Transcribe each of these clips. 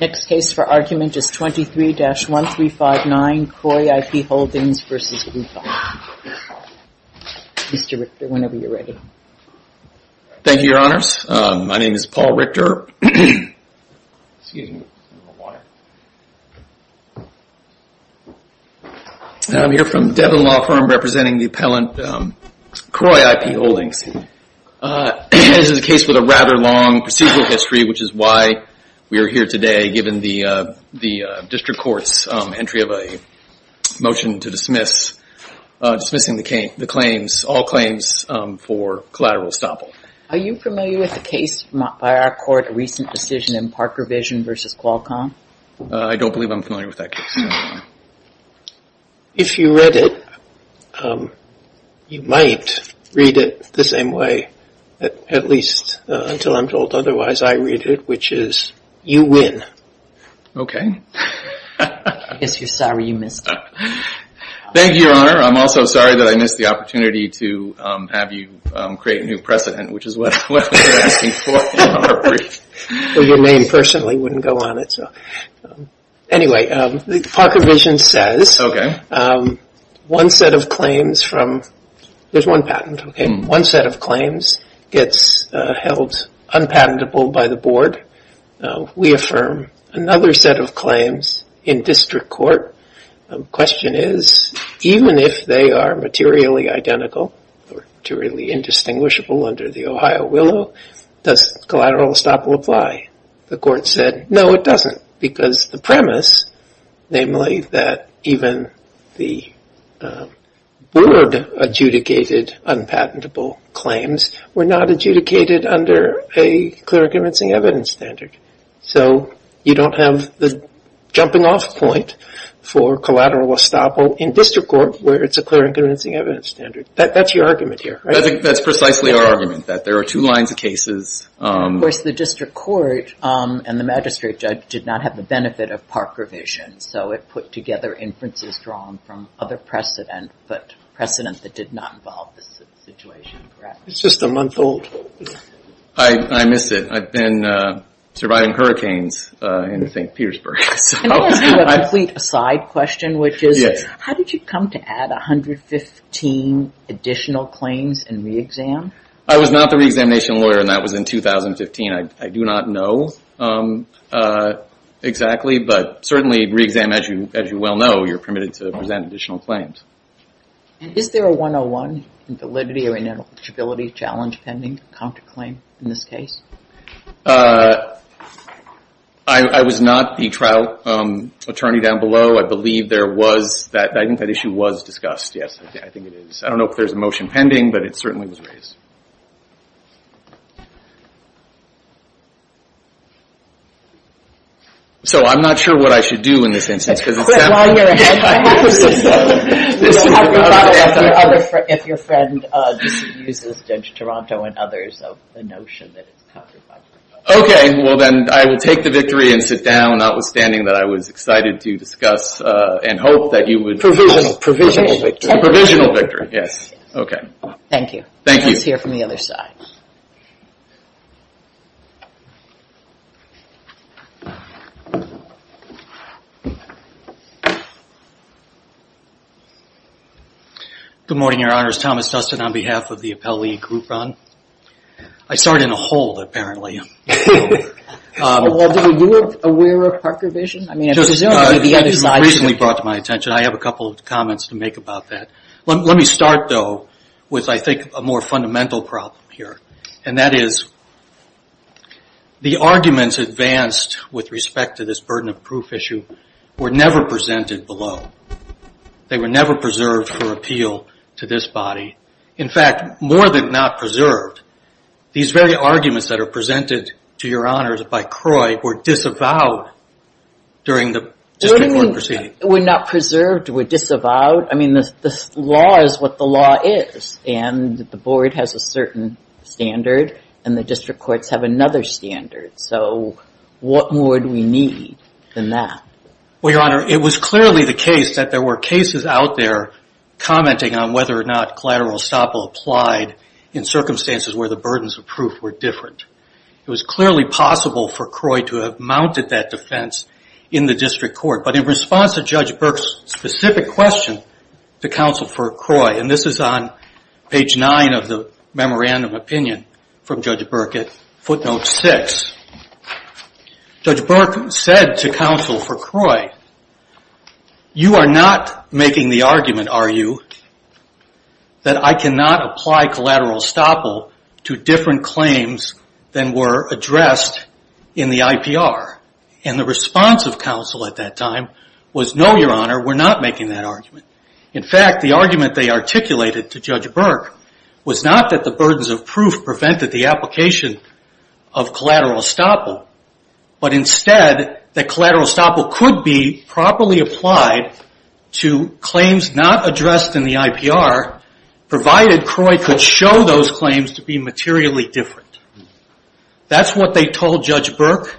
Next case for argument is 23-1359 Kroy IP Holdings v. Upholm. Mr. Richter, whenever you're ready. Thank you, Your Honors. My name is Paul Richter. Excuse me. I don't know why. I'm here from Devon Law Firm representing the appellant Kroy IP Holdings. This is a case with a rather long procedural history, which is why we are here today, given the district court's entry of a motion to dismiss, dismissing the claims, all claims for collateral estoppel. Are you familiar with the case by our court, a recent decision in Parker Vision v. Qualcomm? I don't believe I'm familiar with that case. If you read it, you might read it the same way, at least until I'm told otherwise I read it, which is, you win. Yes, you're sorry you missed it. Thank you, Your Honor. I'm also sorry that I missed the opportunity to have you create a new precedent, which is what we were asking for. Well, your name personally wouldn't go on it, so. Anyway, Parker Vision says one set of claims from, there's one patent, OK, one set of claims gets held unpatentable by the board. We affirm another set of claims in district court. Question is, even if they are materially identical, or materially indistinguishable under the Ohio willow, does collateral estoppel apply? The court said, no, it doesn't, because the premise, namely that even the board adjudicated unpatentable claims were not adjudicated under a clear and convincing evidence standard. So you don't have the jumping off point for collateral estoppel in district court, where it's a clear and convincing evidence standard. That's your argument here, right? That's precisely our argument, that there are two lines of cases. Of course, the district court and the magistrate judge did not have the benefit of Parker Vision, so it put together inferences drawn from other precedent, but precedent that did not involve this situation. It's just a month old. I miss it. I've been surviving hurricanes in St. Petersburg. Can I ask you a complete aside question, which is, how did you come to add 115 additional claims in re-exam? I was not the re-examination lawyer, and that was in 2015. I do not know exactly, but certainly re-exam, as you well know, you're permitted to present additional claims. Is there a 101 in validity or ineligibility challenge pending counterclaim in this case? I was not the trial attorney down below. I believe there was that issue was discussed. Yes, I think it is. I don't know if there's a motion pending, but it certainly was raised. So, I'm not sure what I should do in this instance. Because it sounds like... While you're ahead, I have a question. You'll have to talk to me if your friend uses Judge Toronto and others of the notion that it's counterproductive. Okay, well then, I will take the victory and sit down, notwithstanding that I was excited to discuss and hope that you would... Provisional victory. Provisional victory, yes. Okay. Thank you. Thank you. Let's hear from the other side. Good morning, Your Honors. Thomas Dustin on behalf of the Appellee Group, Ron. I started in a hole, apparently. Well, were you aware of Parker vision? I mean, presumably the other side... It was recently brought to my attention. I have a couple of comments to make about that. Let me start, though, with, I think, a more fundamental problem here. And that is, the arguments advanced with respect to this burden of proof issue were never presented below. They were never preserved for appeal to this body. In fact, more than not preserved, these very arguments that are presented to Your Honors by Croy were disavowed during the district court proceeding. What do you mean, were not preserved? Were disavowed? I mean, the law is what the law is. And the board has a certain standard. And the district courts have another standard. So, what more do we need than that? Well, Your Honor, it was clearly the case that there were cases out there commenting on whether or not collateral estoppel applied in circumstances where the burdens of proof were different. It was clearly possible for Croy to have mounted that defense in the district court. But in response to Judge Burke's specific question to Counsel for Croy, and this is on page 9 of the memorandum opinion from Judge Burke at footnote 6, Judge Burke said to Counsel for Croy, you are not making the argument, are you, that I cannot apply collateral estoppel to different claims than were addressed in the IPR. And the response of Counsel at that time was, no, Your Honor, we're not making that argument. In fact, the argument they articulated to Judge Burke was not that the burdens of proof prevented the application of collateral estoppel, but instead that collateral estoppel could be properly applied to claims not addressed in the IPR, provided Croy could show those claims to be materially different. That's what they told Judge Burke.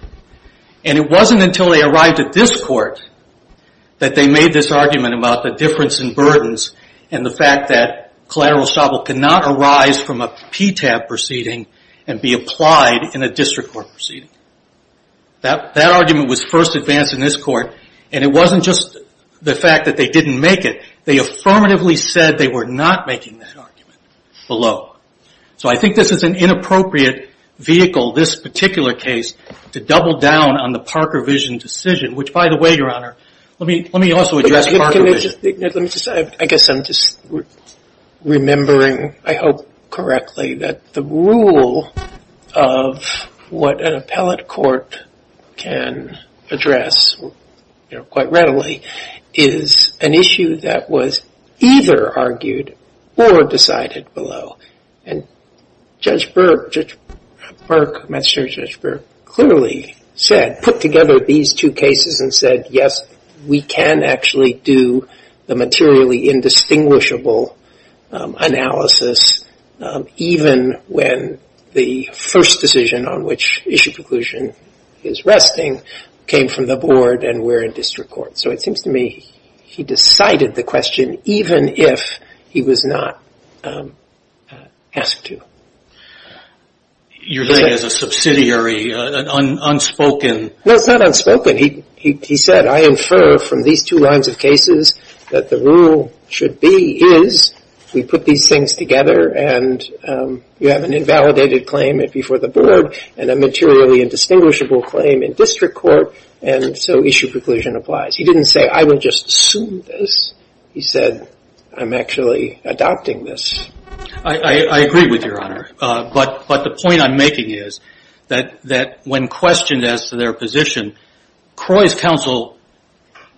And it wasn't until they arrived at this court that they made this argument about the difference in burdens and the fact that collateral estoppel cannot arise from a PTAB proceeding and be applied in a district court proceeding. That argument was first advanced in this court, and it wasn't just the fact that they didn't make it. They affirmatively said they were not making that argument below. So I think this is an inappropriate vehicle, this particular case, to double down on the Parker vision decision, which, by the way, Your Honor, let me also address Parker vision. I guess I'm just remembering, I hope correctly, that the rule of what an appellate court can address quite readily is an issue that was either argued or decided below. And Judge Burke, Judge Burke, clearly said, put together these two cases and said, yes, we can actually do the materially indistinguishable analysis even when the first decision on which issue preclusion is resting came from the board and we're in district court. So it seems to me he decided the question even if he was not asked to. You're saying as a subsidiary, unspoken. No, it's not unspoken. He said, I infer from these two lines of cases that the rule should be is we put these things together and you have an invalidated claim before the board and a materially indistinguishable claim in district court and so issue preclusion applies. He didn't say, I will just assume this. He said, I'm actually adopting this. I agree with you, Your Honor. But the point I'm making is that when questioned as to their position, Croy's counsel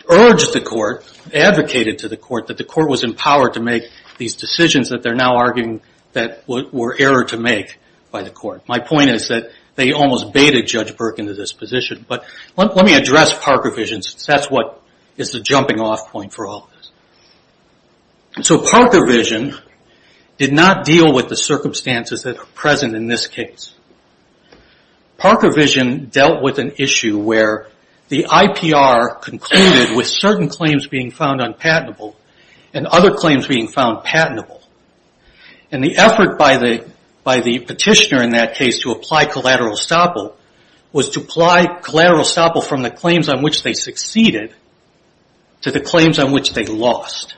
urged the court, advocated to the court, that the court was empowered to make these decisions that they're now arguing that were error to make by the court. My point is that they almost baited Judge Burke into this position. But let me address Parker vision since that's what is the jumping off point for all of us. So Parker vision did not deal with the circumstances that are present in this case. Parker vision dealt with an issue where the IPR concluded with certain claims being found unpatentable and other claims being found patentable. And the effort by the petitioner in that case to apply collateral estoppel was to apply collateral estoppel from the claims on which they succeeded to the claims on which they lost.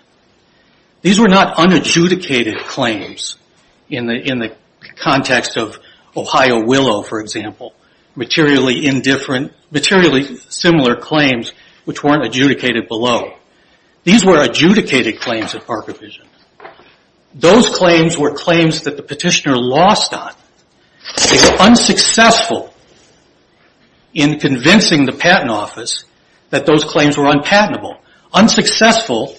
These were not unadjudicated claims in the context of Ohio Willow, for example, materially indifferent, materially similar claims which weren't adjudicated below. These were adjudicated claims at Parker vision. Those claims were claims that the petitioner lost on. They were unsuccessful in convincing the patent office that those claims were unpatentable. Unsuccessful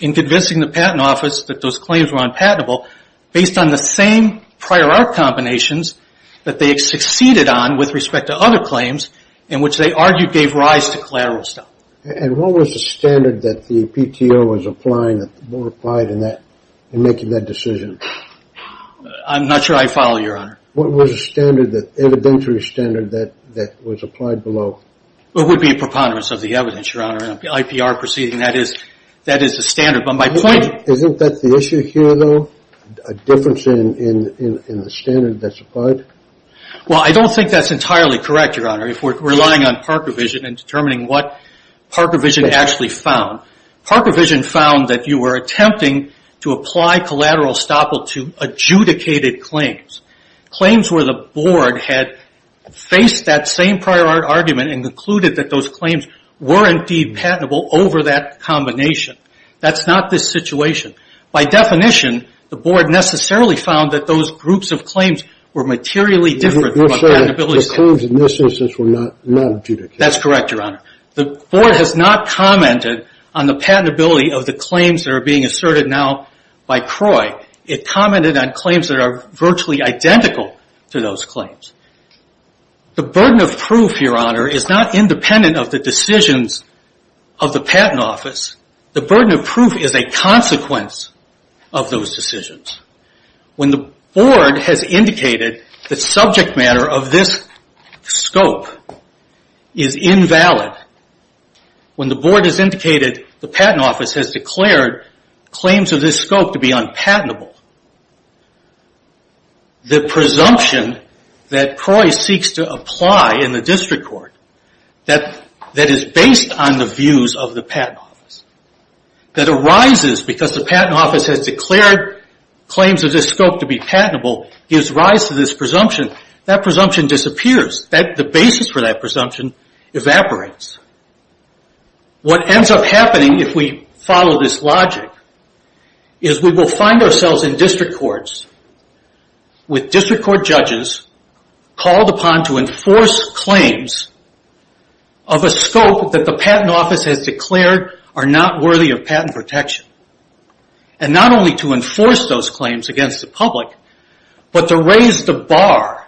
in convincing the patent office that those claims were unpatentable based on the same prior art combinations that they had succeeded on with respect to other claims in which they argued gave rise to collateral estoppel. And what was the standard that the PTO was applying that the board applied in making that decision? I'm not sure I follow, Your Honor. What was the standard, the evidentiary standard that was applied below? It would be preponderance of the evidence, Your Honor. The IPR proceeding, that is the standard. But my point... Isn't that the issue here, though? A difference in the standard that's applied? Well, I don't think that's entirely correct, Your Honor, if we're relying on Parker vision and determining what Parker vision actually found. Parker vision found that you were attempting to apply collateral estoppel to adjudicated claims, claims where the board had faced that same prior art argument and concluded that those claims were indeed patentable over that combination. That's not this situation. By definition, the board necessarily found that those groups of claims were materially different... You're saying the claims in this instance were not adjudicated. That's correct, Your Honor. The board has not commented on the patentability of the claims that are being asserted now by CROI. It commented on claims that are virtually identical to those claims. The burden of proof, Your Honor, is not independent of the decisions of the patent office. The burden of proof is a consequence of those decisions. When the board has indicated that subject matter of this scope is invalid, when the board has indicated the patent office has declared claims of this scope to be unpatentable, the presumption that CROI seeks to apply in the district court that is based on the views of the patent office, that arises because the patent office has declared claims of this scope to be patentable, gives rise to this presumption. That presumption disappears. The basis for that presumption evaporates. What ends up happening, if we follow this logic, is we will find ourselves in district courts with district court judges called upon to enforce claims of a scope that the patent office has declared are not worthy of patent protection. Not only to enforce those claims against the public, but to raise the bar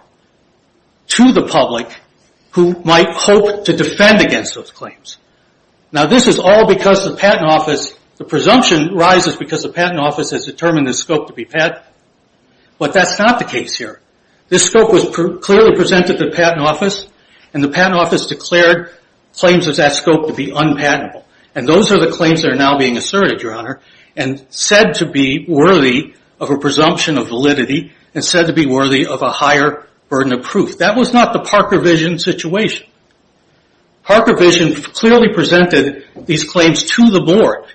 to the public who might hope to defend against those claims. This is all because the patent office, the presumption rises because the patent office has determined this scope to be patentable. But that's not the case here. This scope was clearly presented to the patent office, and the patent office declared claims of that scope to be unpatentable. Those are the claims that are now being asserted, Your Honor, and said to be worthy of a presumption of validity, and said to be worthy of a higher burden of proof. That was not the Parker Vision situation. Parker Vision clearly presented these claims to the board.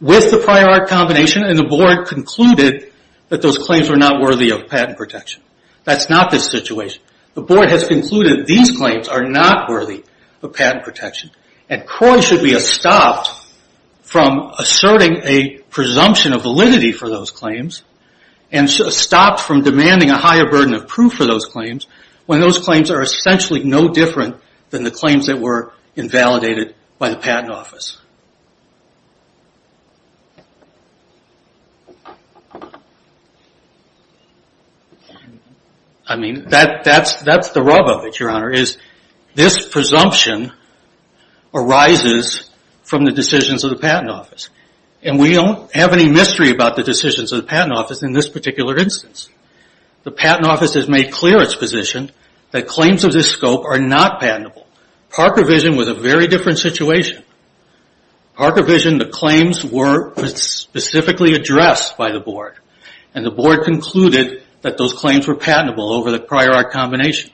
With the prior art combination, and the board concluded that those claims were not worthy of patent protection. That's not the situation. The board has concluded these claims are not worthy of patent protection, and Croy should be stopped from asserting a presumption of validity for those claims, and stopped from demanding a higher burden of proof for those claims, when those claims are essentially no different than the claims that were invalidated by the patent office. I mean, that's the rub of it, Your Honor, is this presumption arises from the decisions of the patent office. And we don't have any mystery about the decisions of the patent office in this particular instance. The patent office has made clear its position that claims of this scope are not patentable. Parker Vision was a very different situation. Parker Vision, the claims were specifically addressed by the board. And the board concluded that those claims were patentable over the prior art combination.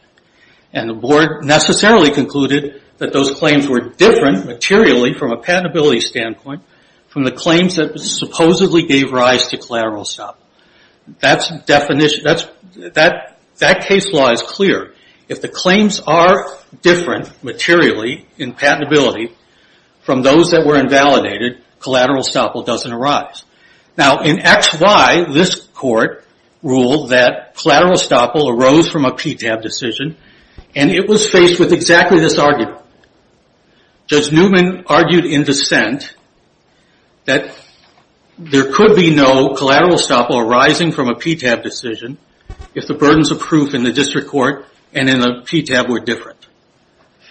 And the board necessarily concluded that those claims were different materially from a patentability standpoint from the claims that supposedly gave rise to collateral stop. That case law is clear. If the claims are different materially in patentability from those that were invalidated, collateral stop doesn't arise. Now, in X, Y, this court ruled that collateral stop arose from a PTAB decision. And it was faced with exactly this argument. Judge Newman argued in dissent that there could be no collateral stop arising from a PTAB decision if the burdens of proof in the district court and in the PTAB were different.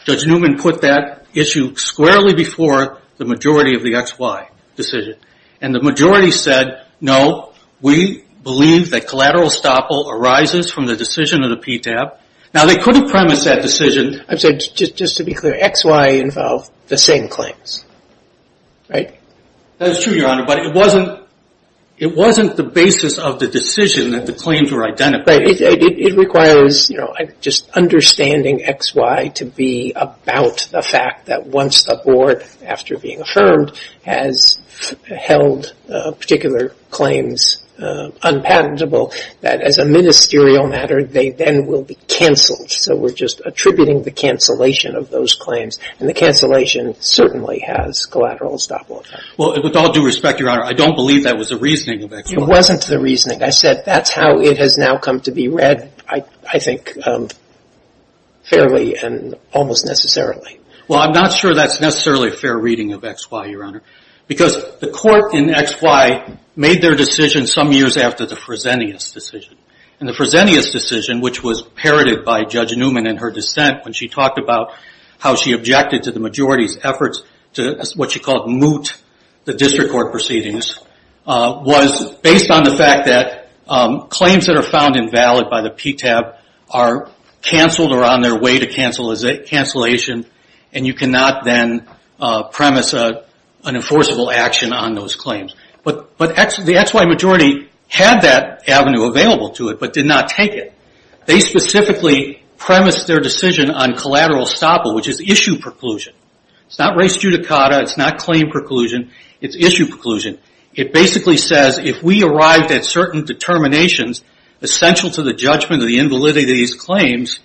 Judge Newman put that issue squarely before the majority of the X, Y decision. And the majority said, no, we believe that collateral stop arises from the decision of the PTAB. Now, they could have premised that decision. I'm sorry. Just to be clear, X, Y involve the same claims, right? That is true, Your Honor. But it wasn't the basis of the decision that the claims were identified. Right. It requires just understanding X, Y to be about the fact that once the board, after being affirmed, has held particular claims unpatentable, that as a ministerial matter, they then will be canceled. So we're just attributing the cancellation of those claims. And the cancellation certainly has collateral stop. Well, with all due respect, Your Honor, I don't believe that was the reasoning of X, Y. It wasn't the reasoning. I said that's how it has now come to be read, I think, fairly and almost necessarily. Well, I'm not sure that's necessarily a fair reading of X, Y, Your Honor, because the court in X, Y made their decision some years after the Fresenius decision. And the Fresenius decision, which was parroted by Judge Newman in her dissent when she talked about how she objected to the majority's efforts to what she called moot the district court proceedings, was based on the fact that claims that are found invalid by the PTAB are canceled or on their way to cancellation, and you cannot then premise an enforceable action on those claims. But the X, Y majority had that avenue available to it but did not take it. They specifically premised their decision on collateral stop, which is issue preclusion. It's not res judicata. It's not claim preclusion. It's issue preclusion. It basically says if we arrived at certain determinations essential to the judgment of the invalidity of these claims,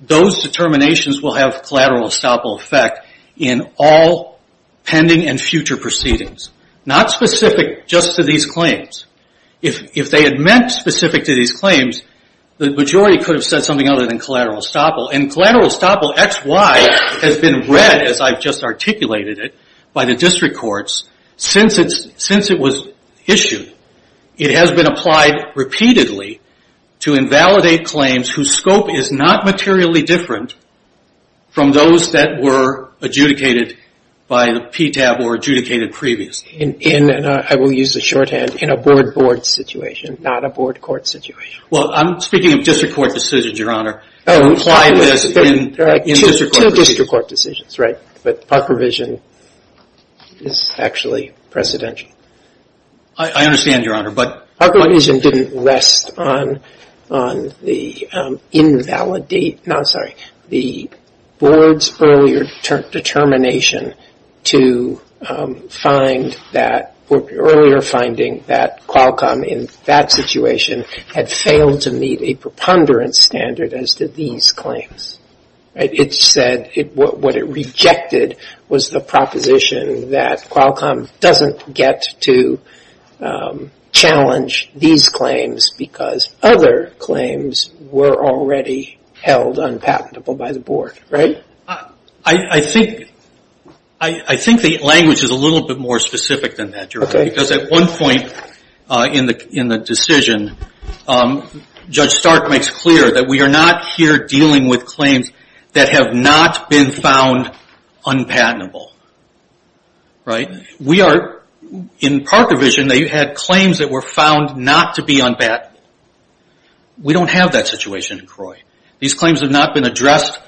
those determinations will have collateral estoppel effect in all pending and future proceedings, not specific just to these claims. If they had meant specific to these claims, the majority could have said something other than collateral estoppel. And collateral estoppel, X, Y, has been read, as I've just articulated it, by the district courts since it was issued. It has been applied repeatedly to invalidate claims whose scope is not materially different from those that were adjudicated by the PTAB or adjudicated previously. I will use the shorthand. In a board-board situation, not a board-court situation. Well, I'm speaking of district court decisions, Your Honor. Two district court decisions, right? But Park Revision is actually precedential. I understand, Your Honor, but Park Revision didn't rest on the invalidate, no, sorry, the board's earlier determination to find that, or earlier finding that Qualcomm in that situation had failed to meet a preponderance standard as did these claims. It said what it rejected was the proposition that Qualcomm doesn't get to challenge these claims because other claims were already held unpatentable by the board, right? I think the language is a little bit more specific than that, Your Honor. Because at one point in the decision, Judge Stark makes clear that we are not here dealing with claims that have not been found unpatentable, right? We are, in Park Revision, they had claims that were found not to be unpatentable. We don't have that situation in CROI. These claims have not been addressed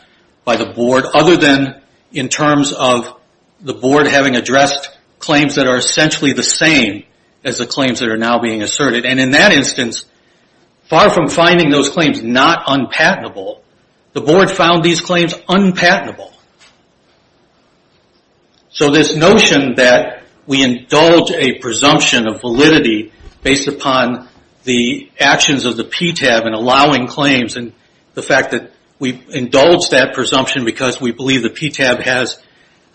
by the board other than in terms of the board having addressed claims that are essentially the same as the claims that are now being asserted. And in that instance, far from finding those claims not unpatentable, the board found these claims unpatentable. So this notion that we indulge a presumption of validity based upon the actions of the PTAB in allowing claims and the fact that we indulge that presumption because we believe the PTAB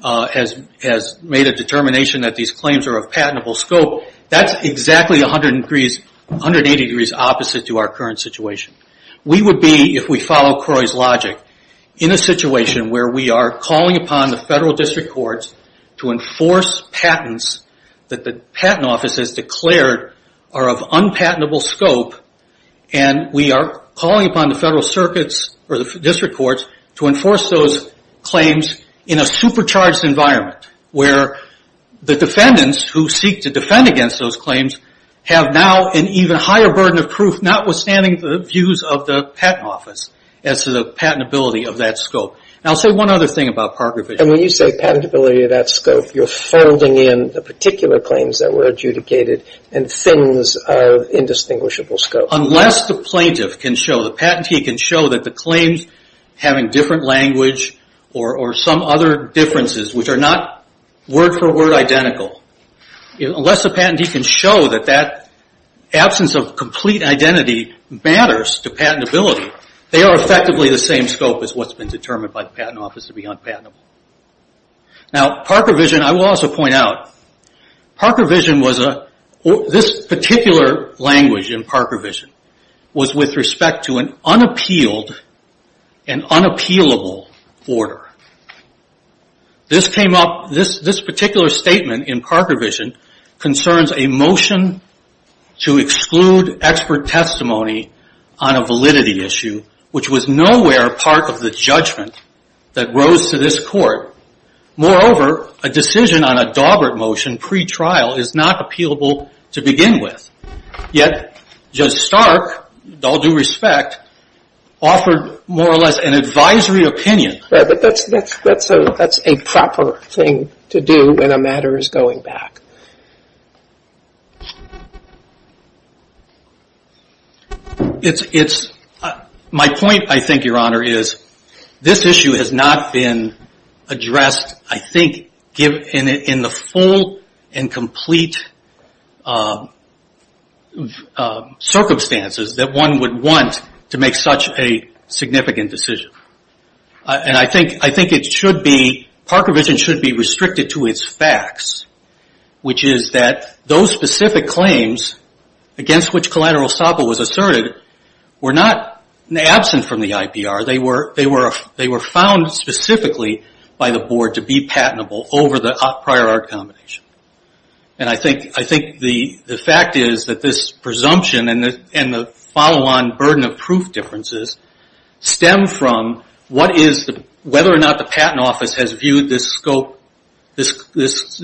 has made a determination that these claims are of patentable scope, that's exactly 180 degrees opposite to our current situation. We would be, if we follow CROI's logic, in a situation where we are calling upon the federal district courts to enforce patents that the patent office has declared are of unpatentable scope and we are calling upon the federal circuits or the district courts to enforce those claims in a supercharged environment where the defendants who seek to defend against those claims have now an even higher burden of proof, notwithstanding the views of the patent office, as to the patentability of that scope. And I'll say one other thing about Parker vision. And when you say patentability of that scope, you're folding in the particular claims that were adjudicated and things of indistinguishable scope. Unless the plaintiff can show, the patentee can show, that the claims having different language or some other differences which are not word for word identical, unless the patentee can show that that absence of complete identity matters to patentability, they are effectively the same scope as what's been determined by the patent office to be unpatentable. Now, Parker vision, I will also point out, Parker vision was a, this particular language in Parker vision, was with respect to an unappealed and unappealable order. This came up, this particular statement in Parker vision, concerns a motion to exclude expert testimony on a validity issue, which was nowhere part of the judgment that rose to this court. Moreover, a decision on a Dawbert motion pre-trial is not appealable to begin with. Yet, Judge Stark, with all due respect, offered more or less an advisory opinion. But that's a proper thing to do when a matter is going back. It's, my point, I think, Your Honor, is this issue has not been addressed, I think, in the full and complete circumstances that one would want to make such a significant decision. And I think it should be, Parker vision should be restricted to its facts, which is that those specific claims against which collateral estoppel was asserted were not absent from the IPR. They were found specifically by the board to be patentable over the prior art combination. And I think the fact is that this presumption and the follow-on burden of proof differences stem from whether or not the patent office has viewed this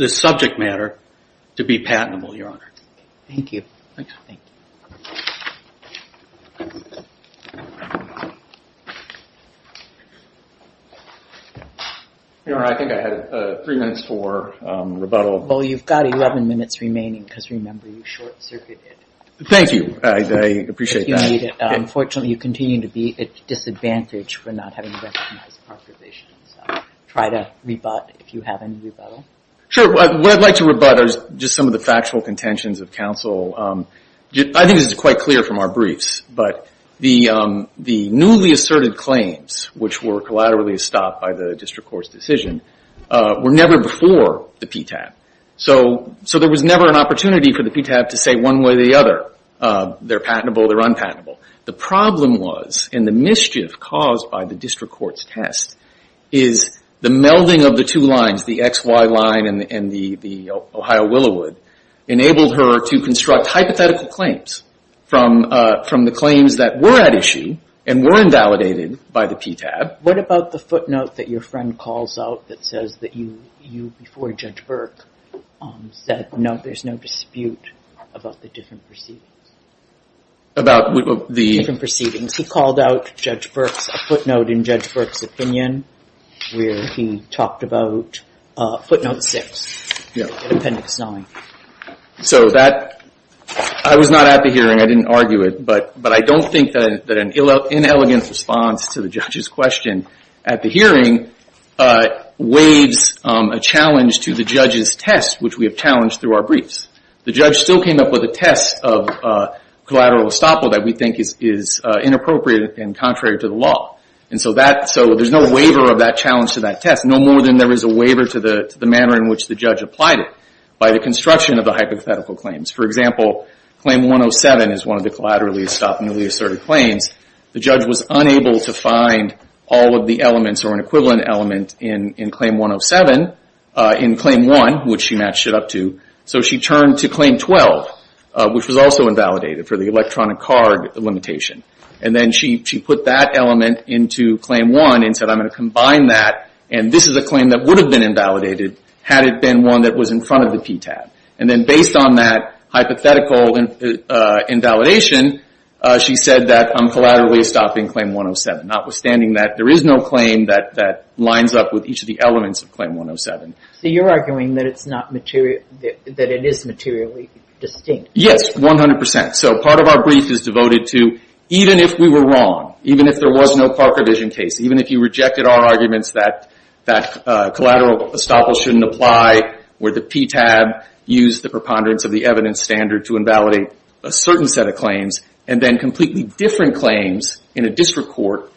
subject matter to be patentable, Your Honor. Thank you. Your Honor, I think I had three minutes for rebuttal. Well, you've got 11 minutes remaining because, remember, you short-circuited. Thank you. I appreciate that. Unfortunately, you continue to be at disadvantage for not having recognized Parker vision. So try to rebut if you have any rebuttal. Sure. What I'd like to rebut are just some of the factual contentions of counsel. I think this is quite clear from our briefs, but the newly asserted claims, which were collaterally estopped by the district court's decision, were never before the PTAB. So there was never an opportunity for the PTAB to say one way or the other, they're patentable, they're unpatentable. The problem was, and the mischief caused by the district court's test, is the melding of the two lines, the XY line and the Ohio Willowood, enabled her to construct hypothetical claims from the claims that were at issue and were invalidated by the PTAB. What about the footnote that your friend calls out that says that you, before Judge Burke, said there's no dispute about the different proceedings? About the... Different proceedings. He called out Judge Burke's footnote in Judge Burke's opinion where he talked about footnote six in appendix nine. So that... I was not at the hearing, I didn't argue it, but I don't think that an inelegant response to the judge's question at the hearing waives a challenge to the judge's test, which we have challenged through our briefs. The judge still came up with a test of collateral estoppel that we think is inappropriate and contrary to the law. And so there's no waiver of that challenge to that test, no more than there is a waiver to the manner in which the judge applied it by the construction of the hypothetical claims. For example, claim 107 is one of the collaterally estoppelly asserted claims. The judge was unable to find all of the elements or an equivalent element in claim 107 in claim one, which she matched it up to, so she turned to claim 12, which was also invalidated for the electronic card limitation. And then she put that element into claim one and said, I'm going to combine that, and this is a claim that would have been invalidated had it been one that was in front of the PTAB. And then based on that hypothetical invalidation, she said that I'm collaterally estopping claim 107, notwithstanding that there is no claim that lines up with each of the elements of claim 107. So you're arguing that it is materially distinct. Yes, 100%. So part of our brief is devoted to even if we were wrong, even if there was no Parker vision case, even if you rejected our arguments that collateral estoppel shouldn't apply, where the PTAB used the preponderance of the evidence standard to invalidate a certain set of claims, and then completely different claims in a district court,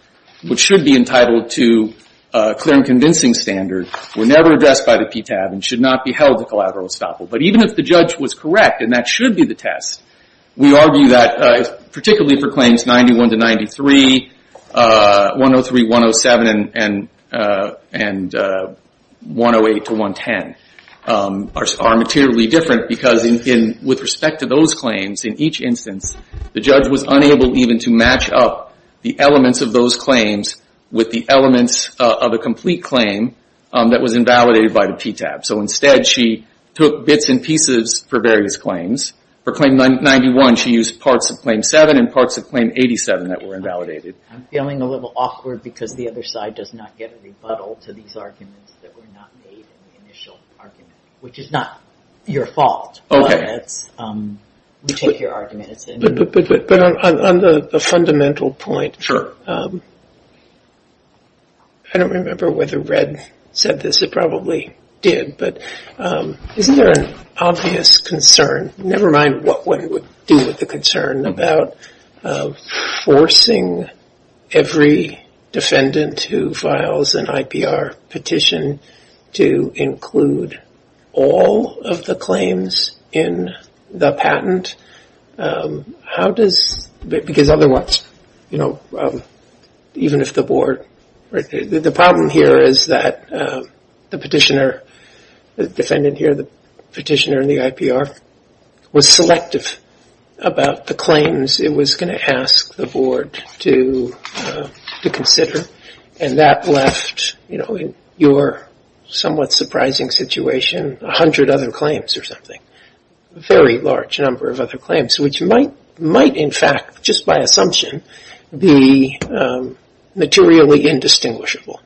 which should be entitled to a clear and convincing standard, were never addressed by the PTAB and should not be held to collateral estoppel. But even if the judge was correct, and that should be the test, we argue that, particularly for claims 91 to 93, 103, 107, and 108 to 110, are materially different because with respect to those claims, in each instance, the judge was unable even to match up the elements of those claims with the elements of a complete claim that was invalidated by the PTAB. So instead, she took bits and pieces for various claims. For claim 91, she used parts of claim 7 and parts of claim 87 that were invalidated. I'm feeling a little awkward because the other side does not get a rebuttal to these arguments that were not made in the initial argument, which is not your fault. We take your argument. But on the fundamental point, I don't remember whether Red said this, it probably did, but isn't there an obvious concern, never mind what one would do with the concern, about forcing every defendant who files an IPR petition to include all of the claims in the patent? How does, because otherwise, even if the board, the problem here is that the petitioner, the defendant here, the petitioner in the IPR, was selective about the claims it was going to ask the board to consider, and that left, in your somewhat surprising situation, 100 other claims or something. A very large number of other claims, which might in fact, just by assumption, be materially indistinguishable.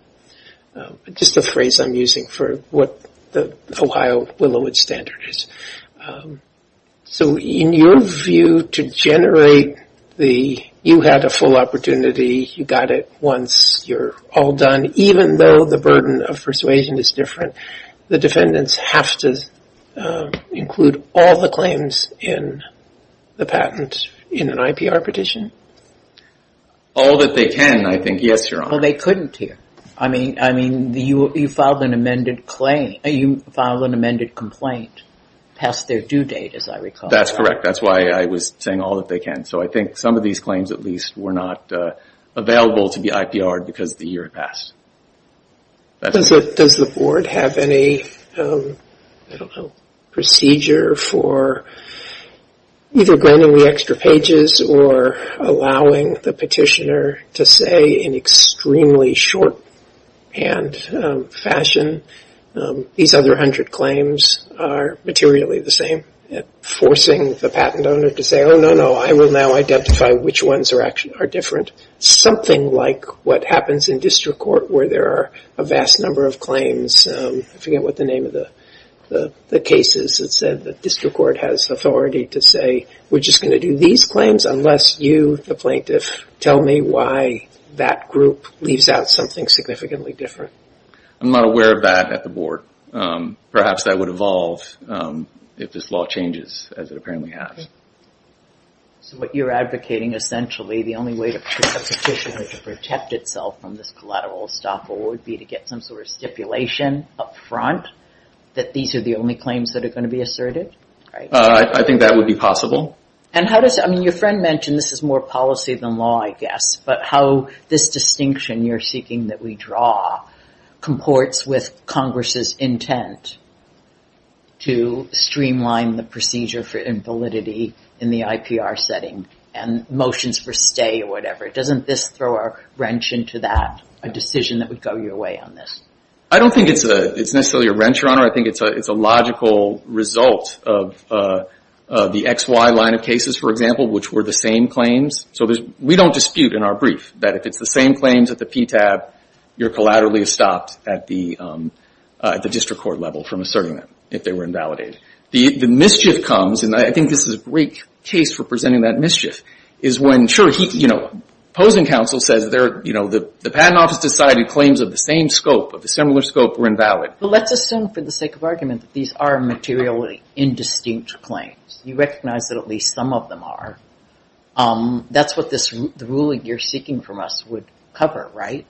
Just a phrase I'm using for what the Ohio Willowood Standard is. So in your view, to generate the, you had a full opportunity, you got it once, you're all done, even though the burden of persuasion is different, the defendants have to include all the claims in the patent in an IPR petition? All that they can, I think, yes, Your Honor. Well, they couldn't here. I mean, you filed an amended claim, you filed an amended complaint past their due date, as I recall. That's correct. That's why I was saying all that they can. So I think some of these claims, at least, were not available to be IPR'd because the year had passed. Does the board have any, I don't know, procedure for either granting the extra pages or allowing the petitioner to say in extremely short-hand fashion, these other 100 claims are materially the same? Forcing the patent owner to say, oh, no, no, I will now identify which ones are different. Something like what happens in district court where there are a vast number of claims. I forget what the name of the case is that said that district court has authority to say, we're just going to do these claims unless you, the plaintiff, tell me why that group leaves out something significantly different. I'm not aware of that at the board. Perhaps that would evolve if this law changes, as it apparently has. So what you're advocating, essentially, the only way to protect the petitioner, to protect itself from this collateral estoppel, would be to get some sort of stipulation up front that these are the only claims that are going to be asserted? I think that would be possible. And how does, I mean, your friend mentioned, this is more policy than law, I guess, but how this distinction you're seeking that we draw comports with Congress's intent to streamline the procedure for invalidity in the IPR setting and motions for stay or whatever. Doesn't this throw a wrench into that, a decision that would go your way on this? I don't think it's necessarily a wrench, Your Honor. I think it's a logical result of the XY line of cases, for example, which were the same claims. So we don't dispute in our brief that if it's the same claims at the PTAB, you're collaterally estopped at the district court level from asserting them if they were invalidated. The mischief comes, and I think this is a great case for presenting that mischief, is when, sure, opposing counsel says the patent office decided claims of the same scope, of the similar scope, were invalid. Well, let's assume for the sake of argument that these are materially indistinct claims. You recognize that at least some of them are. That's what the ruling you're seeking from us would cover, right?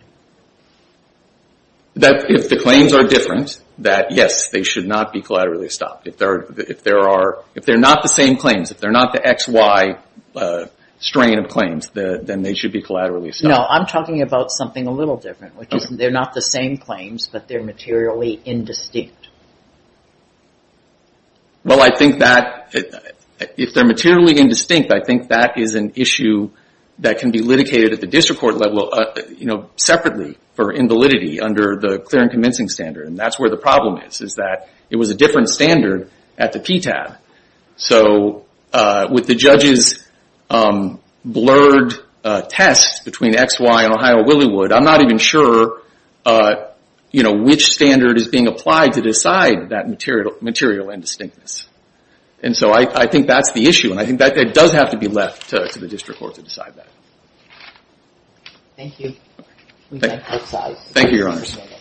If the claims are different, then yes, they should not be collaterally estopped. If they're not the same claims, if they're not the XY strain of claims, then they should be collaterally estopped. No, I'm talking about something a little different, which is they're not the same claims, but they're materially indistinct. Well, I think that if they're materially indistinct, I think that is an issue that can be litigated at the district court level separately for invalidity under the clear and convincing standard, and that's where the problem is, is that it was a different standard at the PTAB. So with the judge's blurred test between XY and Ohio-Williwood, I'm not even sure which standard is being applied to decide that material indistinctness. And so I think that's the issue, and I think that does have to be left to the district court to decide that. Thank you. Thank you, Your Honors.